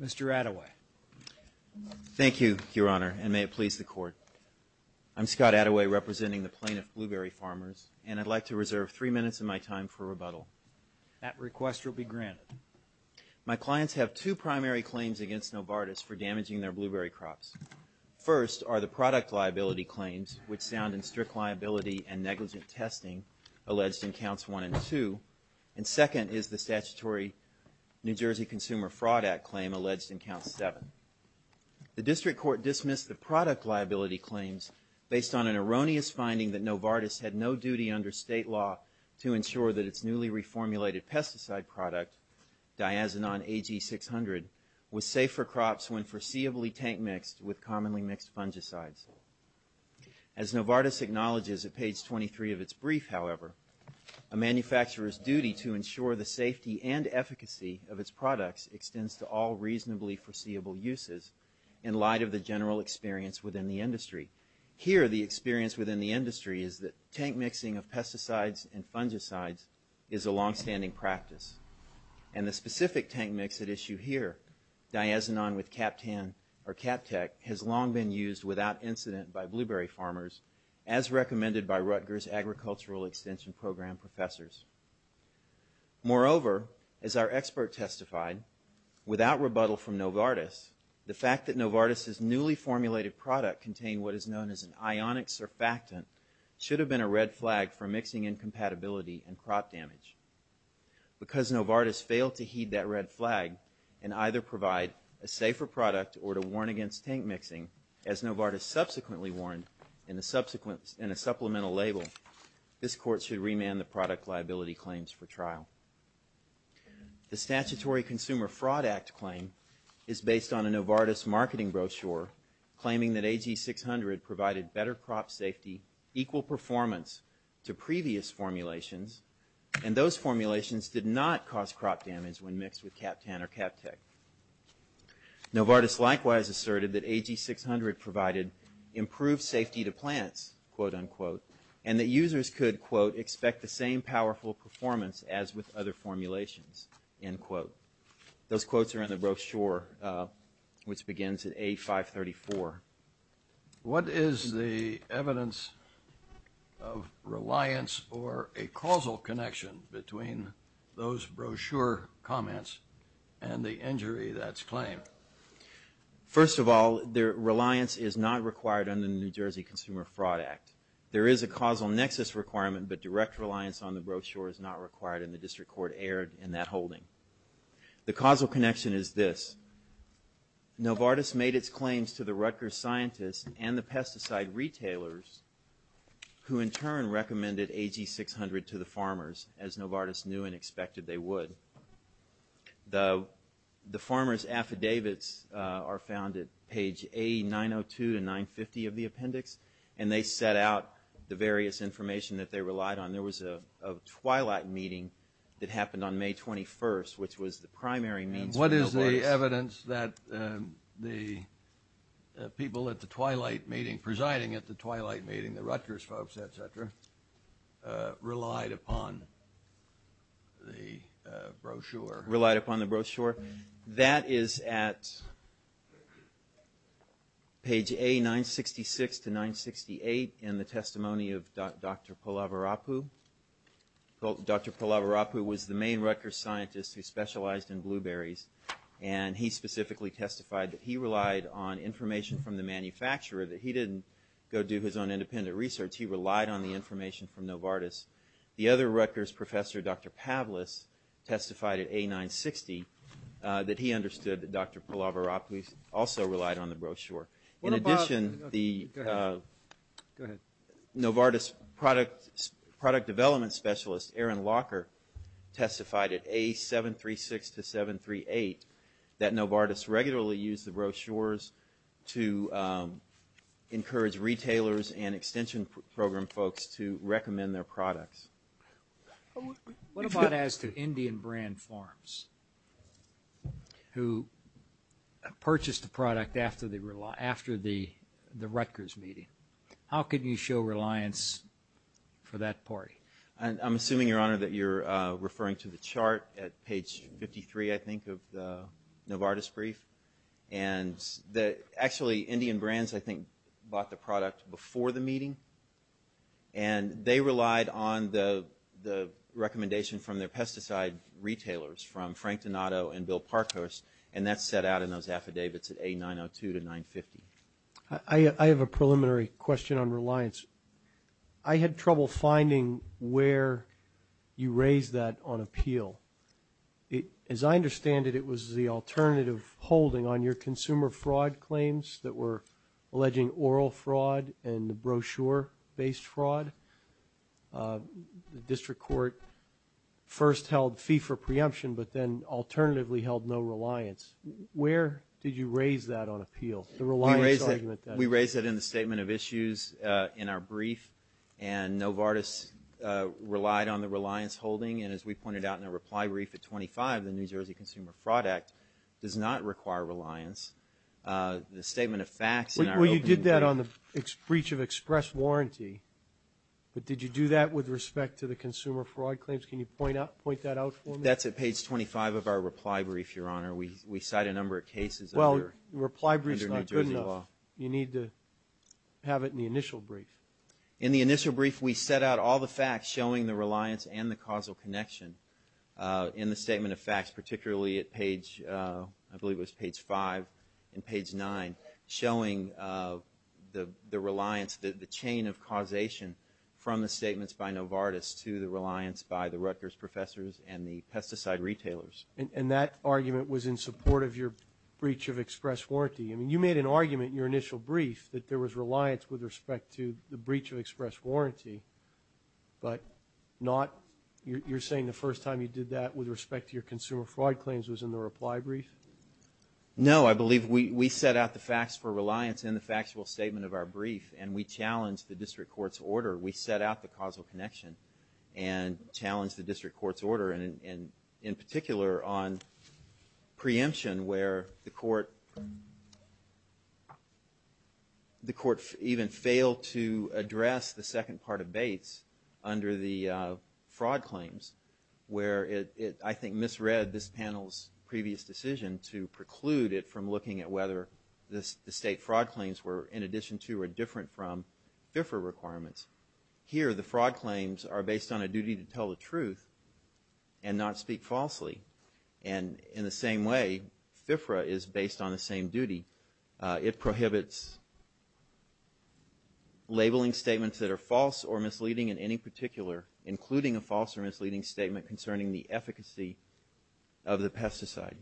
Mr. Attaway. Thank you, Your Honor, and may it please the Court. I'm Scott Attaway, representing the plaintiff, Blueberry Farmers, and I'd like to reserve three minutes of my time for rebuttal. That request will be granted. My clients have two primary claims against Novartis for damaging their blueberry crops. First are the product liability claims, which sound in strict liability and negligent testing, alleged in Counts 1 and 2, and second is the statutory New Jersey Consumer Fraud Act claim alleged in Counts 7. The District Court dismissed the product liability claims based on an erroneous finding that Novartis had no duty under state law to ensure that its newly reformulated pesticide product, Diazonon AG-600, was safe for crops when foreseeably tank-mixed with commonly mixed fungicides. As Novartis acknowledges at page 23 of its brief, however, a manufacturer's duty to ensure the safety and efficacy of its products extends to all reasonably foreseeable uses in light of the general experience within the industry. Here, the experience within the industry is that tank-mixing of pesticides and fungicides is a long-standing practice. And the specific tank mix at issue here, Diazonon with CAPTAN or CAPTEC, has long been used without incident by blueberry farmers, as recommended by Rutgers Agricultural Extension Program professors. Moreover, as our expert testified, without rebuttal from Novartis, the fact that Novartis's newly formulated product contained what is known as an ionic surfactant should have been a red flag for mixing incompatibility and crop damage. Because Novartis failed to heed that red flag and either provide a safer product or to warn against tank-mixing, as Novartis subsequently warned in a supplemental label, this Court should remand the product liability claims for trial. The Statutory Consumer Fraud Act claim is based on a Novartis marketing brochure claiming that AG 600 provided better crop safety, equal performance to previous formulations, and those formulations did not cause crop damage when mixed with CAPTAN or CAPTEC. Novartis likewise asserted that AG 600 provided improved safety to plants, quote-unquote, and that users could, quote, expect the same powerful performance as with other formulations, end quote. Those quotes are in the brochure, which begins at A534. What is the evidence of reliance or a causal connection between those brochure comments and the injury that's claimed? First of all, reliance is not required under the New Jersey Consumer Fraud Act. There is a causal nexus requirement, but direct reliance on the brochure is not required, and the District Court erred in that holding. The causal connection is this. Novartis made its claims to the Rutgers scientists and the pesticide retailers who in turn recommended AG 600 to the farmers as Novartis knew and expected they would. The farmers' affidavits are found at page A902 to 950 of the appendix, and they set out the various information that they relied on. There was a twilight meeting that happened on May 21st, which was the primary means for Novartis. Is there any evidence that the people at the twilight meeting, presiding at the twilight meeting, the Rutgers folks, et cetera, relied upon the brochure? Relied upon the brochure? That is at page A966 to 968 in the testimony of Dr. Pallavarapu. Dr. Pallavarapu was the main Rutgers scientist who specialized in blueberries, and he specifically testified that he relied on information from the manufacturer, that he didn't go do his own independent research. He relied on the information from Novartis. The other Rutgers professor, Dr. Pavlis, testified at A960 that he understood that Dr. Pallavarapu also relied on the brochure. In addition, the Novartis product development specialist, Aaron Locker, testified at A736 to 738 that Novartis regularly used the brochures to encourage retailers and extension program folks to recommend their products. What about as to Indian Brand Farms, who purchased the product after the Rutgers meeting? How could you show reliance for that party? I'm assuming, Your Honor, that you're referring to the chart at page 53, I think, of the Novartis brief. And actually, Indian Brands, I think, bought the product before the meeting, and they relied on the recommendation from their pesticide retailers, from Frank Donato and Bill Parkhurst, and that's set out in those affidavits at A902 to 950. I have a preliminary question on reliance. I had trouble finding where you raised that on appeal. As I understand it, it was the alternative holding on your consumer fraud claims that were alleging oral fraud and the brochure-based fraud. The district court first held fee for preemption but then alternatively held no reliance. Where did you raise that on appeal, the reliance argument? We raised it in the statement of issues in our brief, and Novartis relied on the reliance holding, and as we pointed out in our reply brief at 25, the New Jersey Consumer Fraud Act does not require reliance. The statement of facts in our opening brief. Well, you did that on the breach of express warranty, but did you do that with respect to the consumer fraud claims? Can you point that out for me? That's at page 25 of our reply brief, Your Honor. We cite a number of cases under New Jersey law. Well, the reply brief is not good enough. You need to have it in the initial brief. In the initial brief, we set out all the facts showing the reliance and the causal connection in the statement of facts, particularly at page, I believe it was page 5 and page 9, showing the reliance, the chain of causation from the statements by Novartis to the reliance by the Rutgers professors and the pesticide retailers. And that argument was in support of your breach of express warranty. I mean, you made an argument in your initial brief that there was reliance with respect to the breach of express warranty, but you're saying the first time you did that with respect to your consumer fraud claims was in the reply brief? No, I believe we set out the facts for reliance in the factual statement of our brief, and we challenged the district court's order. We set out the causal connection and challenged the district court's order, and in particular on preemption where the court even failed to address the second part of Bates under the fraud claims, where it, I think, misread this panel's previous decision to preclude it from looking at whether the state fraud claims were in addition to or different from FFRA requirements. Here, the fraud claims are based on a duty to tell the truth and not speak falsely. And in the same way, FFRA is based on the same duty. It prohibits labeling statements that are false or misleading in any particular, including a false or misleading statement concerning the efficacy of the pesticide.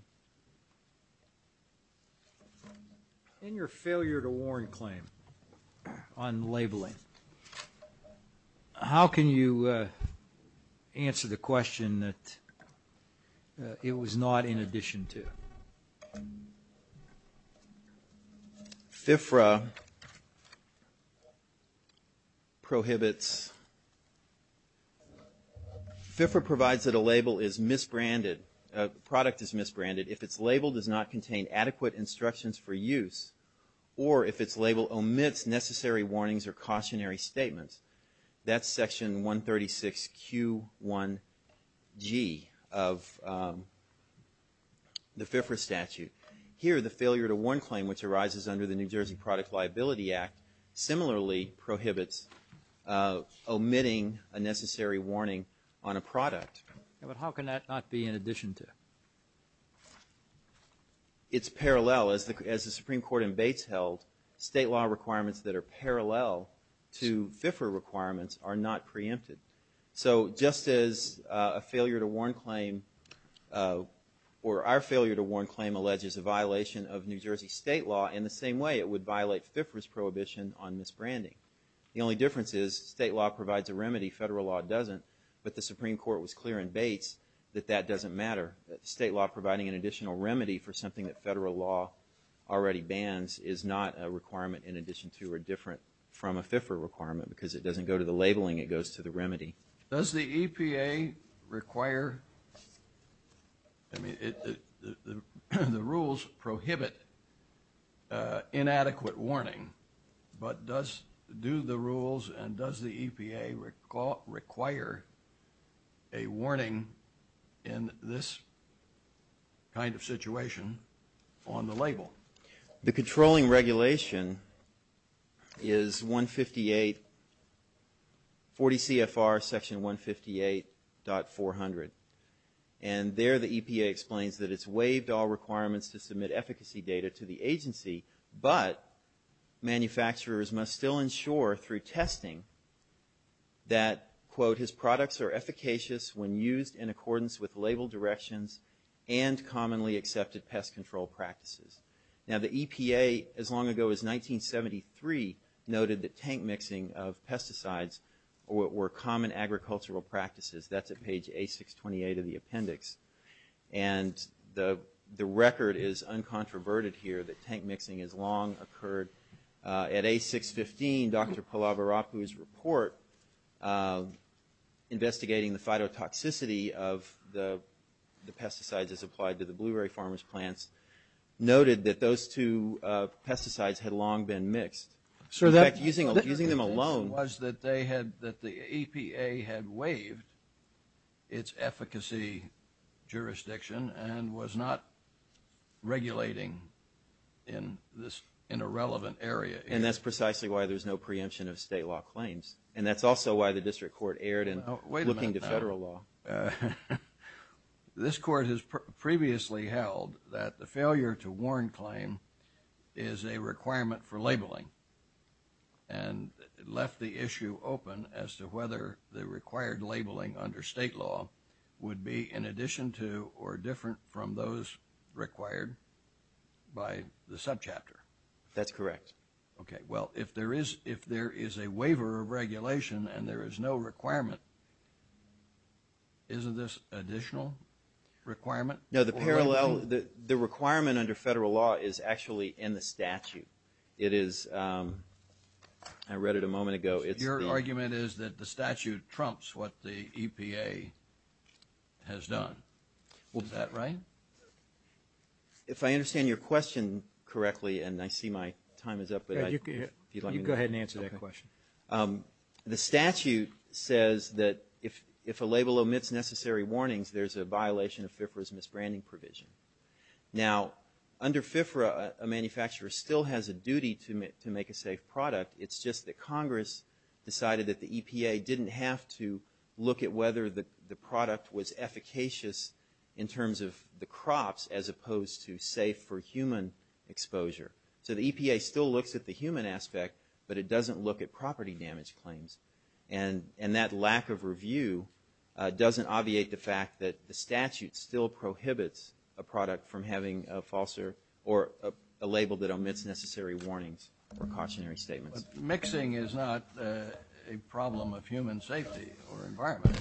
In your failure to warn claim on labeling, how can you answer the question that it was not in addition to? FFRA prohibits... FFRA provides that a product is misbranded if its label does not contain adequate instructions for use or if its label omits necessary warnings or cautionary statements. That's section 136Q1G of the FFRA statute. Here, the failure to warn claim, which arises under the New Jersey Product Liability Act, similarly prohibits omitting a necessary warning on a product. But how can that not be in addition to? It's parallel. As the Supreme Court in Bates held, state law requirements that are parallel to FFRA requirements are not preempted. So just as a failure to warn claim, or our failure to warn claim alleges a violation of New Jersey state law, in the same way it would violate FFRA's prohibition on misbranding. The only difference is state law provides a remedy, federal law doesn't. But the Supreme Court was clear in Bates that that doesn't matter. State law providing an additional remedy for something that federal law already bans is not a requirement in addition to or different from a FFRA requirement because it doesn't go to the labeling, it goes to the remedy. Does the EPA require, I mean, the rules prohibit inadequate warning, but do the rules and does the EPA require a warning in this kind of situation on the label? The controlling regulation is 158, 40 CFR section 158.400. And there the EPA explains that it's waived all requirements to submit efficacy data to the agency, but manufacturers must still ensure through testing that, quote, his products are efficacious when used in accordance with label directions and commonly accepted pest control practices. Now the EPA, as long ago as 1973, noted that tank mixing of pesticides were common agricultural practices. That's at page A628 of the appendix. And the record is uncontroverted here that tank mixing has long occurred. Investigating the phytotoxicity of the pesticides as applied to the blueberry farmers' plants noted that those two pesticides had long been mixed. In fact, using them alone... Sir, that was that they had, that the EPA had waived its efficacy jurisdiction and was not regulating in a relevant area. And that's precisely why there's no preemption of state law claims. And that's also why the district court erred in looking to federal law. This court has previously held that the failure to warn claim is a requirement for labeling and left the issue open as to whether the required labeling under state law would be in addition to or different from those required by the subchapter. That's correct. Okay, well, if there is a waiver of regulation and there is no requirement, isn't this additional requirement? No, the parallel, the requirement under federal law is actually in the statute. It is, I read it a moment ago. Your argument is that the statute trumps what the EPA has done. Is that right? If I understand your question correctly and I see my time is up. You go ahead and answer that question. The statute says that if a label omits necessary warnings, there's a violation of FIFRA's misbranding provision. Now, under FIFRA, a manufacturer still has a duty to make a safe product. It's just that Congress decided that the EPA didn't have to look at whether the product was efficacious in terms of the crops as opposed to safe for human exposure. So the EPA still looks at the human aspect, but it doesn't look at property damage claims. And that lack of review doesn't obviate the fact that the statute still prohibits a product from having a falser or a label that omits necessary warnings or cautionary statements. Mixing is not a problem of human safety or environment.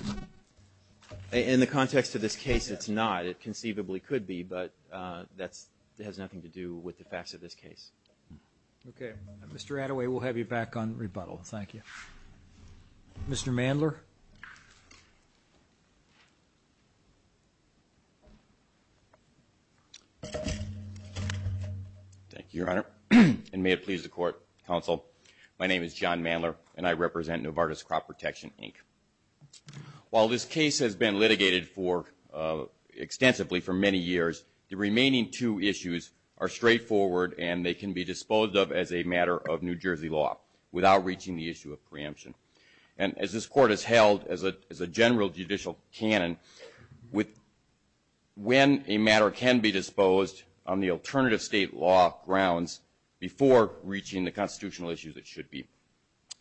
In the context of this case, it's not. It conceivably could be, but that has nothing to do with the facts of this case. Okay. Mr. Attaway, we'll have you back on rebuttal. Thank you. Mr. Mandler. Thank you, Your Honor. And may it please the Court, Counsel. My name is John Mandler, and I represent Novartis Crop Protection, Inc. While this case has been litigated extensively for many years, the remaining two issues are straightforward, and they can be disposed of as a matter of New Jersey law without reaching the issue of preemption. And as this Court has held as a general judicial canon, when a matter can be disposed on the alternative state law grounds before reaching the constitutional issues, it should be.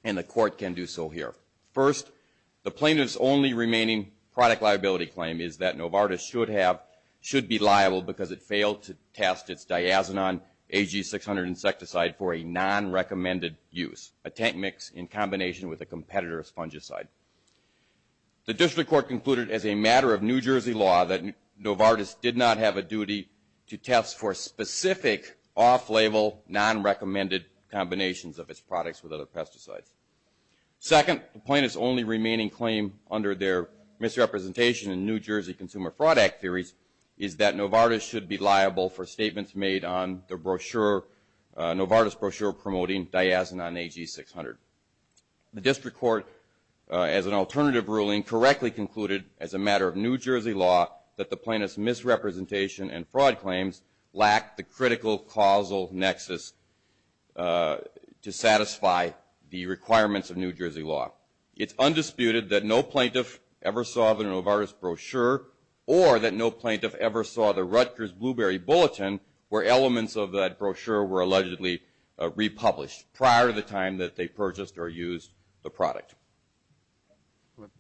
And the Court can do so here. First, the plaintiff's only remaining product liability claim is that Novartis should be liable because it failed to test its diazinon AG-600 insecticide for a non-recommended use, a tank mix in combination with a competitor's fungicide. The district court concluded as a matter of New Jersey law that Novartis did not have a duty to test for specific off-label, non-recommended combinations of its products with other pesticides. Second, the plaintiff's only remaining claim under their misrepresentation in New Jersey Consumer Fraud Act theories is that Novartis should be liable for statements made on the brochure, Novartis brochure promoting diazinon AG-600. The district court, as an alternative ruling, correctly concluded as a matter of New Jersey law that the plaintiff's misrepresentation and fraud claims lack the critical causal nexus to satisfy the requirements of New Jersey law. It's undisputed that no plaintiff ever saw the Novartis brochure or that no plaintiff ever saw the Rutgers Blueberry Bulletin where elements of that brochure were allegedly republished prior to the time that they purchased or used the product.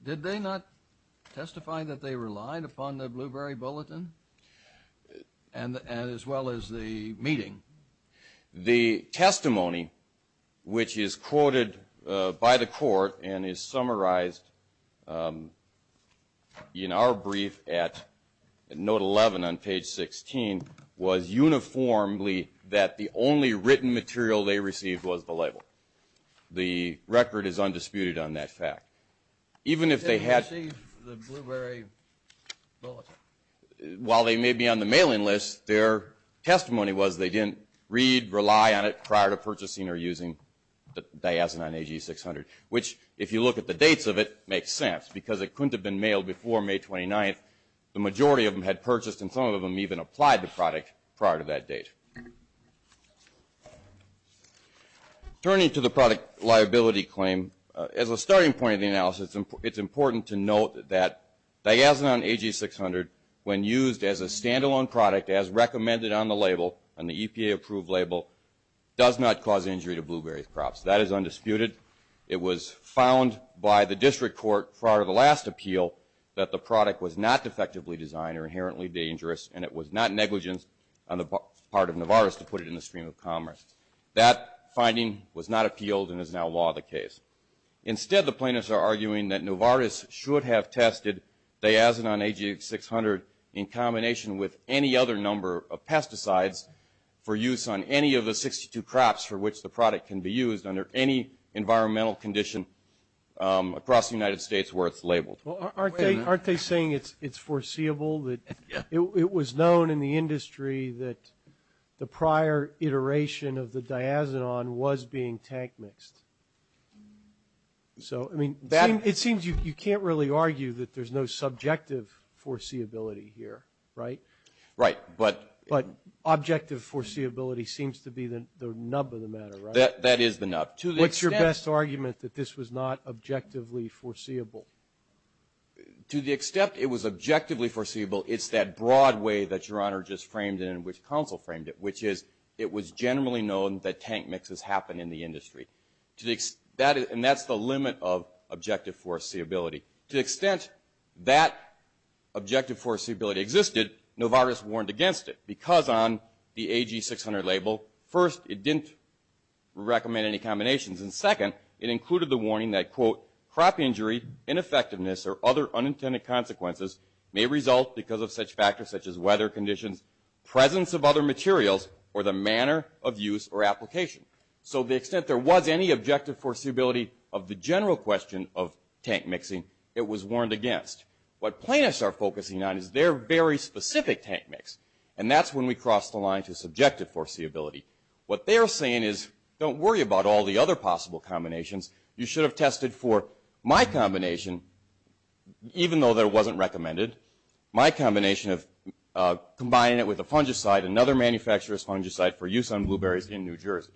Did they not testify that they relied upon the Blueberry Bulletin as well as the meeting? The testimony, which is quoted by the court and is summarized in our brief at note 11 on page 16, was uniformly that the only written material they received was the label. The record is undisputed on that fact. Did they receive the Blueberry Bulletin? While they may be on the mailing list, their testimony was they didn't read, rely on it prior to purchasing or using the diazinon AG-600, which if you look at the dates of it makes sense because it couldn't have been mailed before May 29th. The majority of them had purchased and some of them even applied the product prior to that date. Turning to the product liability claim, as a starting point of the analysis, it's important to note that diazinon AG-600, when used as a standalone product as recommended on the label, on the EPA-approved label, does not cause injury to blueberry crops. That is undisputed. It was found by the district court prior to the last appeal that the product was not defectively designed or inherently dangerous and it was not negligent on the part of Novartis to put it in the stream of commerce. That finding was not appealed and is now law of the case. Instead, the plaintiffs are arguing that Novartis should have tested diazinon AG-600 in combination with any other number of pesticides for use on any of the 62 crops for which the product can be used under any environmental condition across the United States where it's labeled. Well, aren't they saying it's foreseeable? It was known in the industry that the prior iteration of the diazinon was being tank mixed. So, I mean, it seems you can't really argue that there's no subjective foreseeability here, right? Right. But objective foreseeability seems to be the nub of the matter, right? That is the nub. What's your best argument that this was not objectively foreseeable? To the extent it was objectively foreseeable, it's that broad way that Your Honor just framed it and which counsel framed it, which is it was generally known that tank mixes happened in the industry. And that's the limit of objective foreseeability. To the extent that objective foreseeability existed, Novartis warned against it because on the AG-600 label, first, it didn't recommend any combinations, and second, it included the warning that, quote, crop injury, ineffectiveness, or other unintended consequences may result because of such factors such as weather conditions, presence of other materials, or the manner of use or application. So to the extent there was any objective foreseeability of the general question of tank mixing, it was warned against. What plaintiffs are focusing on is their very specific tank mix, and that's when we cross the line to subjective foreseeability. What they're saying is don't worry about all the other possible combinations. You should have tested for my combination, even though that wasn't recommended, my combination of combining it with a fungicide, another manufacturer's fungicide for use on blueberries in New Jersey.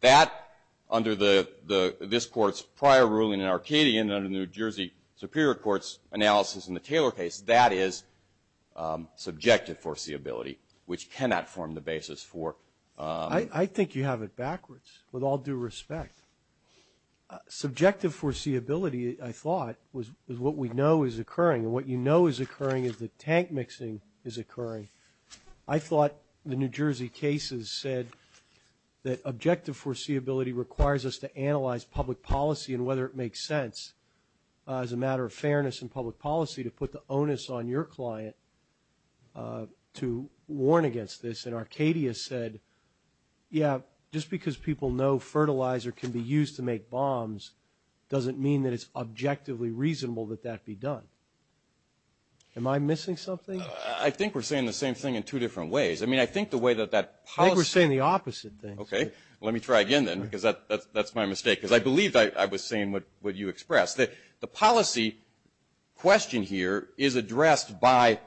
That, under this Court's prior ruling in Arcadian and under New Jersey Superior Court's analysis in the Taylor case, that is subjective foreseeability, which cannot form the basis for... I think you have it backwards, with all due respect. Subjective foreseeability, I thought, was what we know is occurring, and what you know is occurring is that tank mixing is occurring. I thought the New Jersey cases said that objective foreseeability requires us to analyze public policy and whether it makes sense, as a matter of fairness in public policy, to put the onus on your client to warn against this, and Arcadia said, yeah, just because people know fertilizer can be used to make bombs doesn't mean that it's objectively reasonable that that be done. Am I missing something? I think we're saying the same thing in two different ways. I mean, I think the way that that policy... I think we're saying the opposite thing. Okay, let me try again then, because that's my mistake, because I believe I was saying what you expressed. The policy question here is addressed by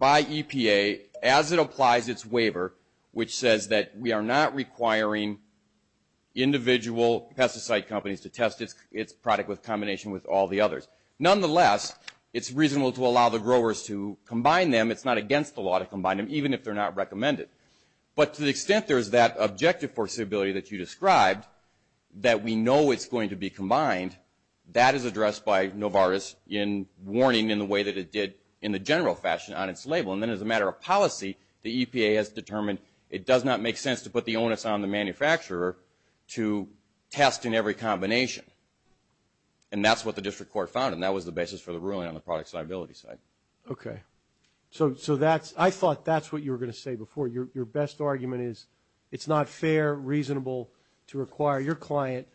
EPA as it applies its waiver, which says that we are not requiring individual pesticide companies to test its product in combination with all the others. Nonetheless, it's reasonable to allow the growers to combine them. It's not against the law to combine them, even if they're not recommended. But to the extent there is that objective foreseeability that you described, that we know it's going to be combined, that is addressed by Novartis in warning in the way that it did in the general fashion on its label. And then as a matter of policy, the EPA has determined it does not make sense to put the onus on the manufacturer to test in every combination. And that's what the district court found, and that was the basis for the ruling on the product's liability side. Okay. So I thought that's what you were going to say before. Your best argument is it's not fair, reasonable to require your client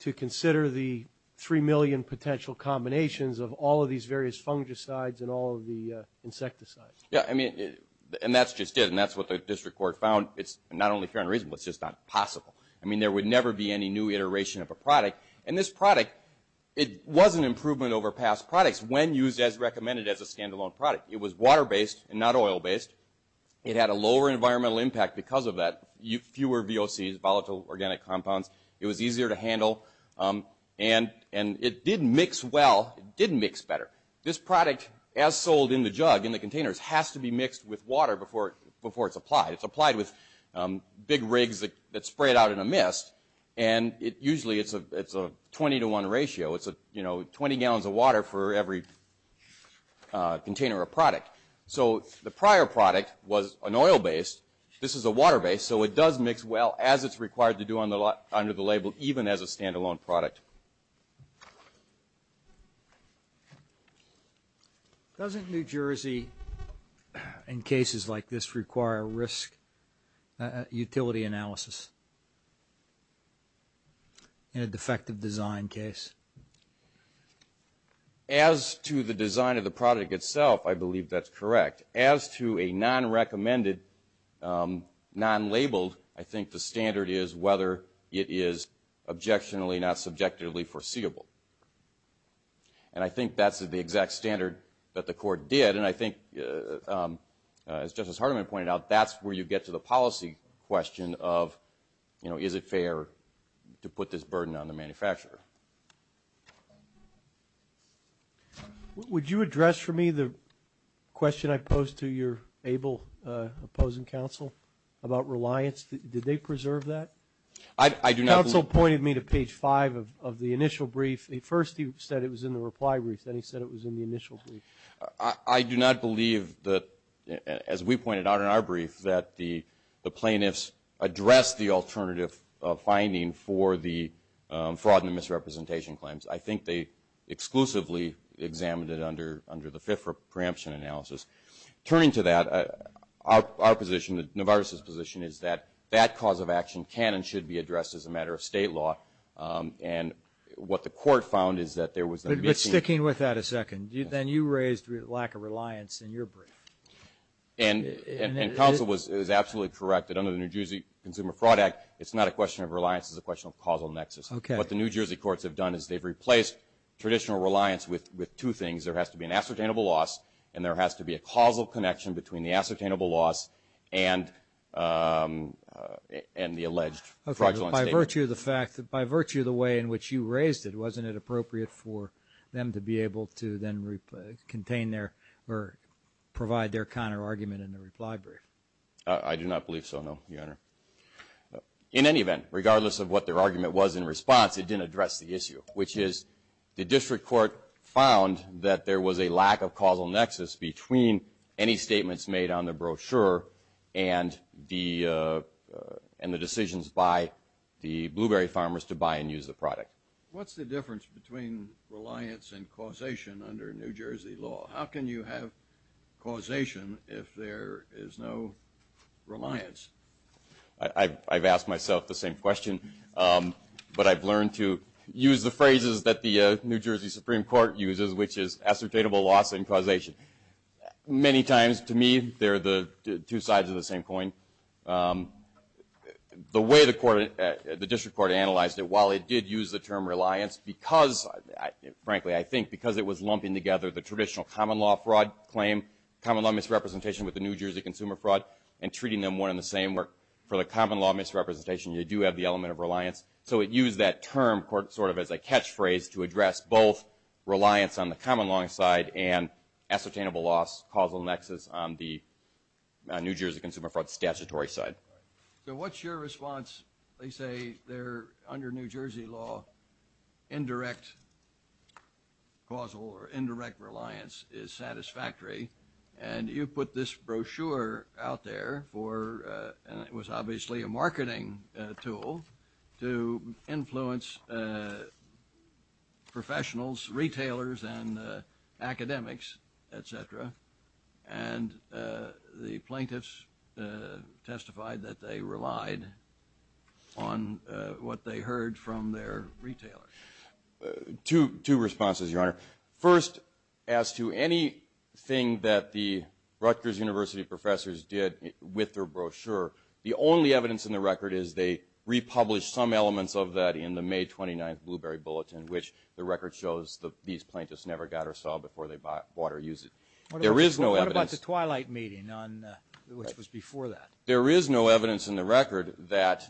to consider the 3 million potential combinations of all of these various fungicides and all of the insecticides. Yeah. I mean, and that's just it, and that's what the district court found. It's not only fair and reasonable, it's just not possible. I mean, there would never be any new iteration of a product. And this product, it was an improvement over past products when used as recommended as a standalone product. It was water-based and not oil-based. It had a lower environmental impact because of that. Fewer VOCs, volatile organic compounds. It was easier to handle, and it did mix well. It did mix better. This product, as sold in the jug, in the containers, has to be mixed with water before it's applied. It's applied with big rigs that spray it out in a mist, and usually it's a 20 to 1 ratio. It's 20 gallons of water for every container of product. So the prior product was an oil-based. This is a water-based, so it does mix well, as it's required to do under the label, even as a standalone product. Doesn't New Jersey, in cases like this, require risk utility analysis in a defective design case? As to the design of the product itself, I believe that's correct. As to a non-recommended, non-labeled, I think the standard is whether it is objectionably, not subjectively foreseeable. And I think that's the exact standard that the court did, and I think, as Justice Hardiman pointed out, to put this burden on the manufacturer. Would you address for me the question I posed to your able opposing counsel about reliance? Did they preserve that? The counsel pointed me to page 5 of the initial brief. At first he said it was in the reply brief, then he said it was in the initial brief. I do not believe that, as we pointed out in our brief, that the plaintiffs addressed the alternative finding for the fraud and misrepresentation claims. I think they exclusively examined it under the fifth preemption analysis. Turning to that, our position, Novartis's position, is that that cause of action can and should be addressed as a matter of state law, and what the court found is that there was a mis- But sticking with that a second, then you raised lack of reliance in your brief. And counsel is absolutely correct that under the New Jersey Consumer Fraud Act, it's not a question of reliance, it's a question of causal nexus. What the New Jersey courts have done is they've replaced traditional reliance with two things. There has to be an ascertainable loss, and there has to be a causal connection between the ascertainable loss and the alleged fraudulent statement. By virtue of the way in which you raised it, then to be able to then contain their or provide their counterargument in the reply brief. I do not believe so, no, Your Honor. In any event, regardless of what their argument was in response, it didn't address the issue, which is the district court found that there was a lack of causal nexus between any statements made on the brochure and the decisions by the blueberry farmers to buy and use the product. What's the difference between reliance and causation under New Jersey law? How can you have causation if there is no reliance? I've asked myself the same question, but I've learned to use the phrases that the New Jersey Supreme Court uses, which is ascertainable loss and causation. Many times, to me, they're the two sides of the same coin. The way the district court analyzed it, while it did use the term reliance because, frankly, I think because it was lumping together the traditional common law fraud claim, common law misrepresentation with the New Jersey consumer fraud, and treating them one and the same, where for the common law misrepresentation you do have the element of reliance. So it used that term sort of as a catchphrase to address both reliance on the common law side and ascertainable loss, causal nexus on the New Jersey consumer fraud statutory side. So what's your response? They say they're under New Jersey law, indirect causal or indirect reliance is satisfactory. And you put this brochure out there for, and it was obviously a marketing tool to influence professionals, retailers and academics, et cetera. And the plaintiffs testified that they relied on what they heard from their retailers. Two responses, Your Honor. First, as to anything that the Rutgers University professors did with their brochure, the only evidence in the record is they republished some elements of that in the These plaintiffs never got or saw before they bought or used it. There is no evidence. What about the Twilight meeting, which was before that? There is no evidence in the record that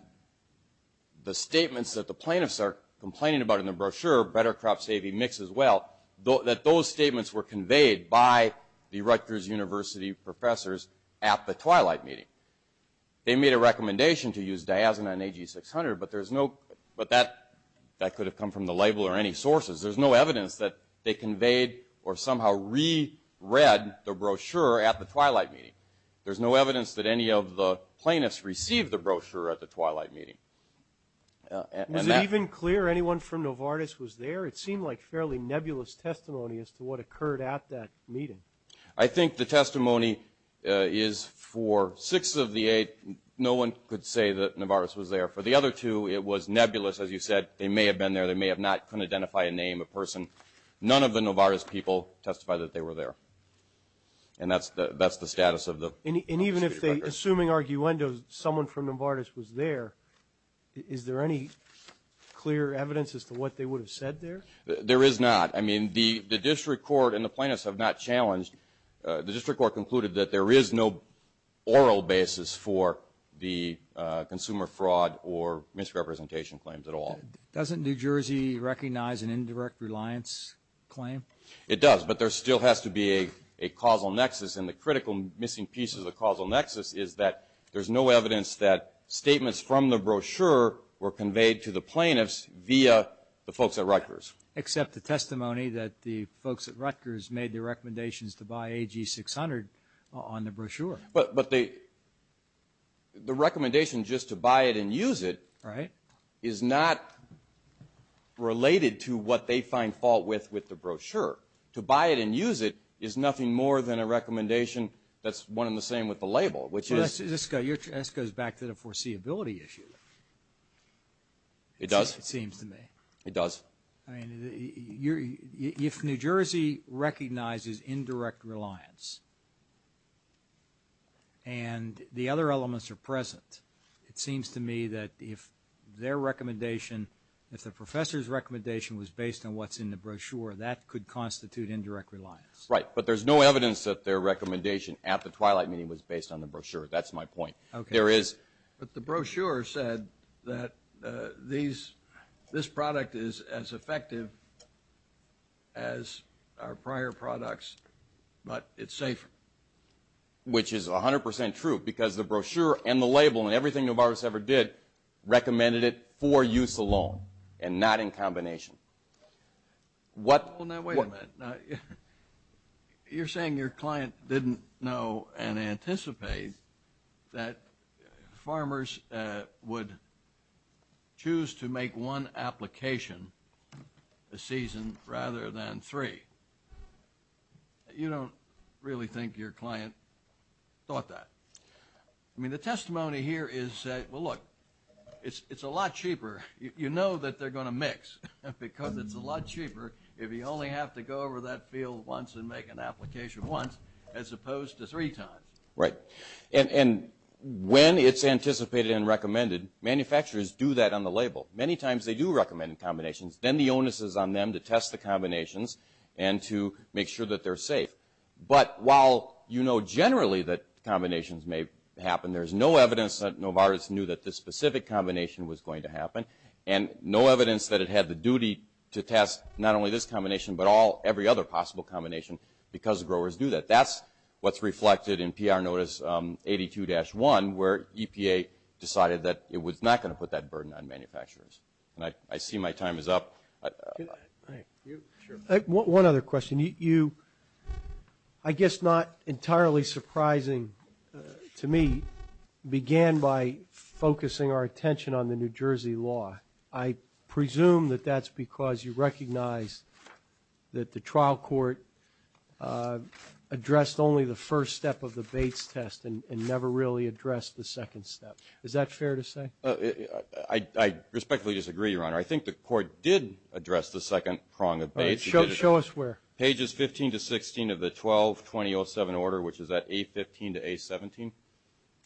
the statements that the plaintiffs are complaining about in the brochure, Better Crop Saving Mix as well, that those statements were conveyed by the Rutgers University professors at the Twilight meeting. They made a recommendation to use Diazin on AG-600, but that could have come from the label or any sources. There is no evidence that they conveyed or somehow re-read the brochure at the Twilight meeting. There is no evidence that any of the plaintiffs received the brochure at the Twilight meeting. Was it even clear anyone from Novartis was there? It seemed like fairly nebulous testimony as to what occurred at that meeting. I think the testimony is for six of the eight, no one could say that Novartis was there. For the other two, it was nebulous. As you said, they may have been there. They may have not, couldn't identify a name, a person. None of the Novartis people testified that they were there, and that's the status of the state record. And even if they, assuming arguendo, someone from Novartis was there, is there any clear evidence as to what they would have said there? There is not. I mean, the district court and the plaintiffs have not challenged. The district court concluded that there is no oral basis for the consumer fraud or misrepresentation claims at all. Doesn't New Jersey recognize an indirect reliance claim? It does, but there still has to be a causal nexus, and the critical missing piece of the causal nexus is that there's no evidence that statements from the brochure were conveyed to the plaintiffs via the folks at Rutgers. Except the testimony that the folks at Rutgers made their recommendations to buy AG-600 on the brochure. But the recommendation just to buy it and use it Right. is not related to what they find fault with with the brochure. To buy it and use it is nothing more than a recommendation that's one and the same with the label, which is. This goes back to the foreseeability issue. It does. It seems to me. It does. I mean, if New Jersey recognizes indirect reliance and the other elements are present, it seems to me that if their recommendation, if the professor's recommendation was based on what's in the brochure, that could constitute indirect reliance. Right, but there's no evidence that their recommendation at the Twilight meeting was based on the brochure. That's my point. Okay. There is. But the brochure said that this product is as effective as our prior products, but it's safer. Which is 100% true because the brochure and the label and everything Novartis ever did recommended it for use alone and not in combination. Now, wait a minute. You're saying your client didn't know and anticipate that farmers would choose to make one application a season rather than three. You don't really think your client thought that. I mean, the testimony here is, well, look, it's a lot cheaper. You know that they're going to mix because it's a lot cheaper if you only have to go over that field once and make an application once as opposed to three times. Right. And when it's anticipated and recommended, manufacturers do that on the label. Many times they do recommend combinations. Then the onus is on them to test the combinations and to make sure that they're safe. But while you know generally that combinations may happen, there's no evidence that Novartis knew that this specific combination was going to happen, and no evidence that it had the duty to test not only this combination but every other possible combination because growers do that. That's what's reflected in PR Notice 82-1, where EPA decided that it was not going to put that burden on manufacturers. And I see my time is up. One other question. You, I guess not entirely surprising to me, began by focusing our attention on the New Jersey law. I presume that that's because you recognize that the trial court addressed only the first step of the Bates test and never really addressed the second step. Is that fair to say? I respectfully disagree, Your Honor. I think the court did address the second prong of Bates. All right. Show us where. Pages 15 to 16 of the 12-2007 order, which is at A-15 to A-17.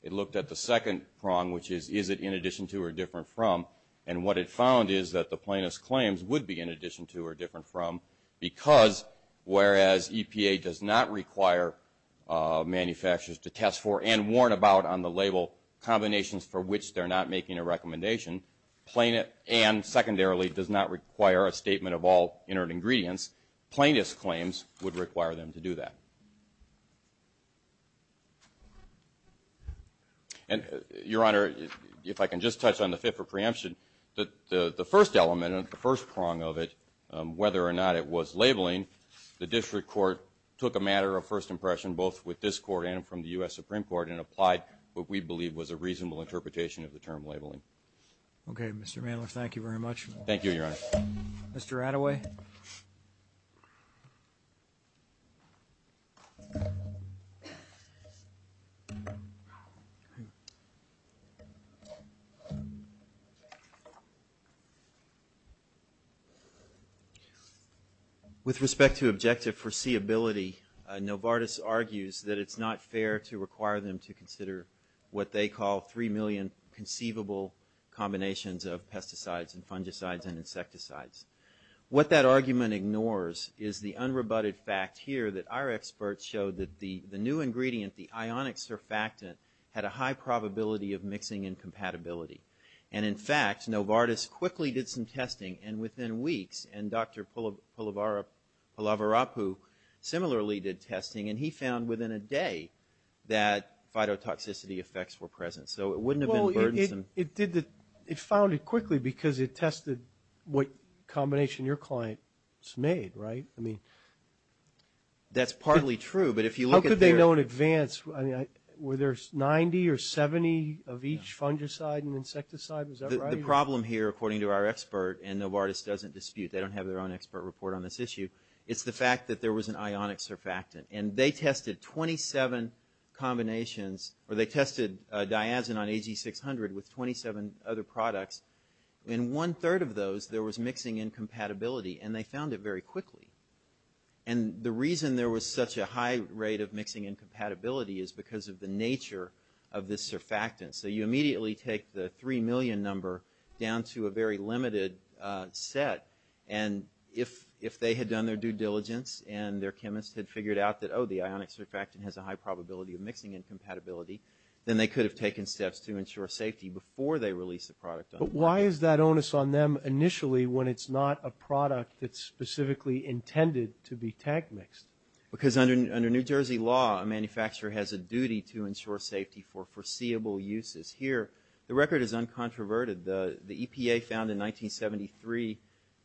It looked at the second prong, which is, is it in addition to or different from? And what it found is that the plaintiff's claims would be in addition to or different from because whereas EPA does not require manufacturers to test for and warn about on the label combinations for which they're not making a recommendation, plaintiff, and secondarily, does not require a statement of all inert ingredients, plaintiff's claims would require them to do that. And, Your Honor, if I can just touch on the fit for preemption. The first element, the first prong of it, whether or not it was labeling, the district court took a matter of first impression, both with this court and from the U.S. Supreme Court, and applied what we believe was a reasonable interpretation of the term labeling. Okay. Mr. Mandler, thank you very much. Thank you, Your Honor. Mr. Attaway. Okay. With respect to objective foreseeability, Novartis argues that it's not fair to require them to consider what they call three million conceivable combinations of pesticides and fungicides and insecticides. What that argument ignores is the unrebutted fact here that our experts showed that the new ingredient, the ionic surfactant, had a high probability of mixing incompatibility. And, in fact, Novartis quickly did some testing and within weeks, and Dr. Pulavarapu similarly did testing, and he found within a day that phytotoxicity effects were present. So it wouldn't have been burdensome. Well, it did the – it found it quickly because it tested what combination your client made, right? I mean – That's partly true, but if you look at their – How could they know in advance? I mean, were there 90 or 70 of each fungicide and insecticide? Is that right? The problem here, according to our expert, and Novartis doesn't dispute, they don't have their own expert report on this issue, is the fact that there was an ionic surfactant. And they tested 27 combinations – or they tested diazin on AG600 with 27 other products. In one-third of those, there was mixing incompatibility, and they found it very quickly. And the reason there was such a high rate of mixing incompatibility is because of the nature of this surfactant. So you immediately take the 3 million number down to a very limited set. And if they had done their due diligence and their chemist had figured out that, oh, the ionic surfactant has a high probability of mixing incompatibility, then they could have taken steps to ensure safety before they released the product on the market. But why is that onus on them initially when it's not a product that's specifically intended to be tank-mixed? Because under New Jersey law, a manufacturer has a duty to ensure safety for foreseeable uses. Here, the record is uncontroverted. The EPA found in 1973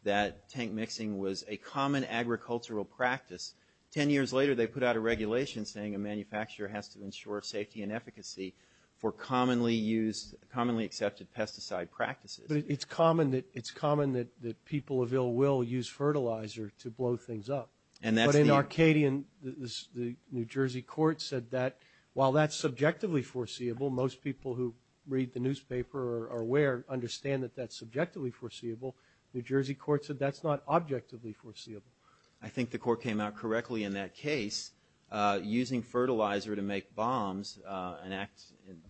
that tank mixing was a common agricultural practice. Ten years later, they put out a regulation saying a manufacturer has to ensure safety and efficacy for commonly used – commonly accepted pesticide practices. But it's common that people of ill will use fertilizer to blow things up. But in Arcadian, the New Jersey court said that while that's subjectively foreseeable, most people who read the newspaper or are aware understand that that's subjectively foreseeable, the New Jersey court said that's not objectively foreseeable. I think the court came out correctly in that case. Using fertilizer to make bombs, an act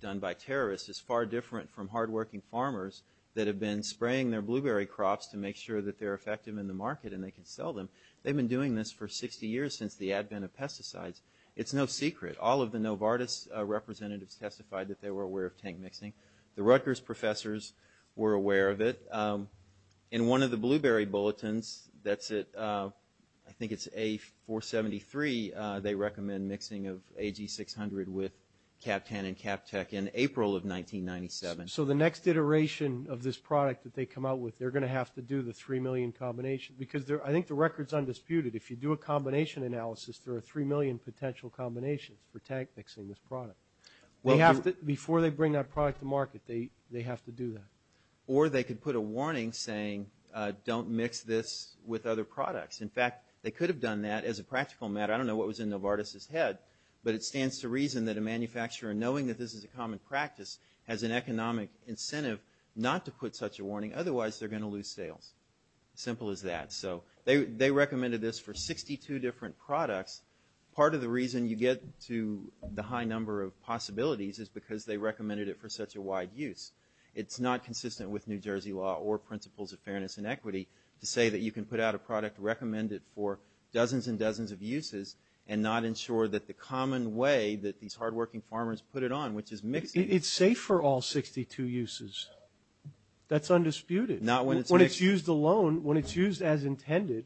done by terrorists, is far different from hardworking farmers that have been spraying their blueberry crops to make sure that they're effective in the market and they can sell them. They've been doing this for 60 years since the advent of pesticides. It's no secret. All of the Novartis representatives testified that they were aware of tank mixing. The Rutgers professors were aware of it. In one of the blueberry bulletins, that's at – I think it's A-473, they recommend mixing of AG-600 with CAPTAN and CAPTEC in April of 1997. So the next iteration of this product that they come out with, they're going to have to do the 3 million combinations. Because I think the record's undisputed. If you do a combination analysis, there are 3 million potential combinations for tank mixing this product. Before they bring that product to market, they have to do that. Or they could put a warning saying don't mix this with other products. In fact, they could have done that as a practical matter. I don't know what was in Novartis' head, but it stands to reason that a manufacturer, knowing that this is a common practice, has an economic incentive not to put such a warning. Otherwise, they're going to lose sales. Simple as that. So they recommended this for 62 different products. Part of the reason you get to the high number of possibilities is because they recommended it for such a wide use. It's not consistent with New Jersey law or principles of fairness and equity to say that you can put out a product, recommend it for dozens and dozens of uses, and not ensure that the common way that these hardworking farmers put it on, which is mixing. It's safe for all 62 uses. That's undisputed. Not when it's mixed. When it's used alone, when it's used as intended,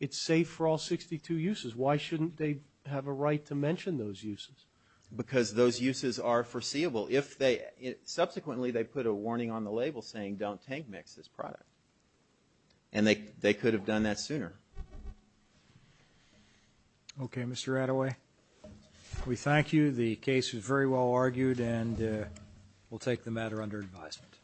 it's safe for all 62 uses. Why shouldn't they have a right to mention those uses? Because those uses are foreseeable. Subsequently, they put a warning on the label saying don't tank mix this product. And they could have done that sooner. Okay, Mr. Attaway, we thank you. The case was very well argued, and we'll take the matter under advisement.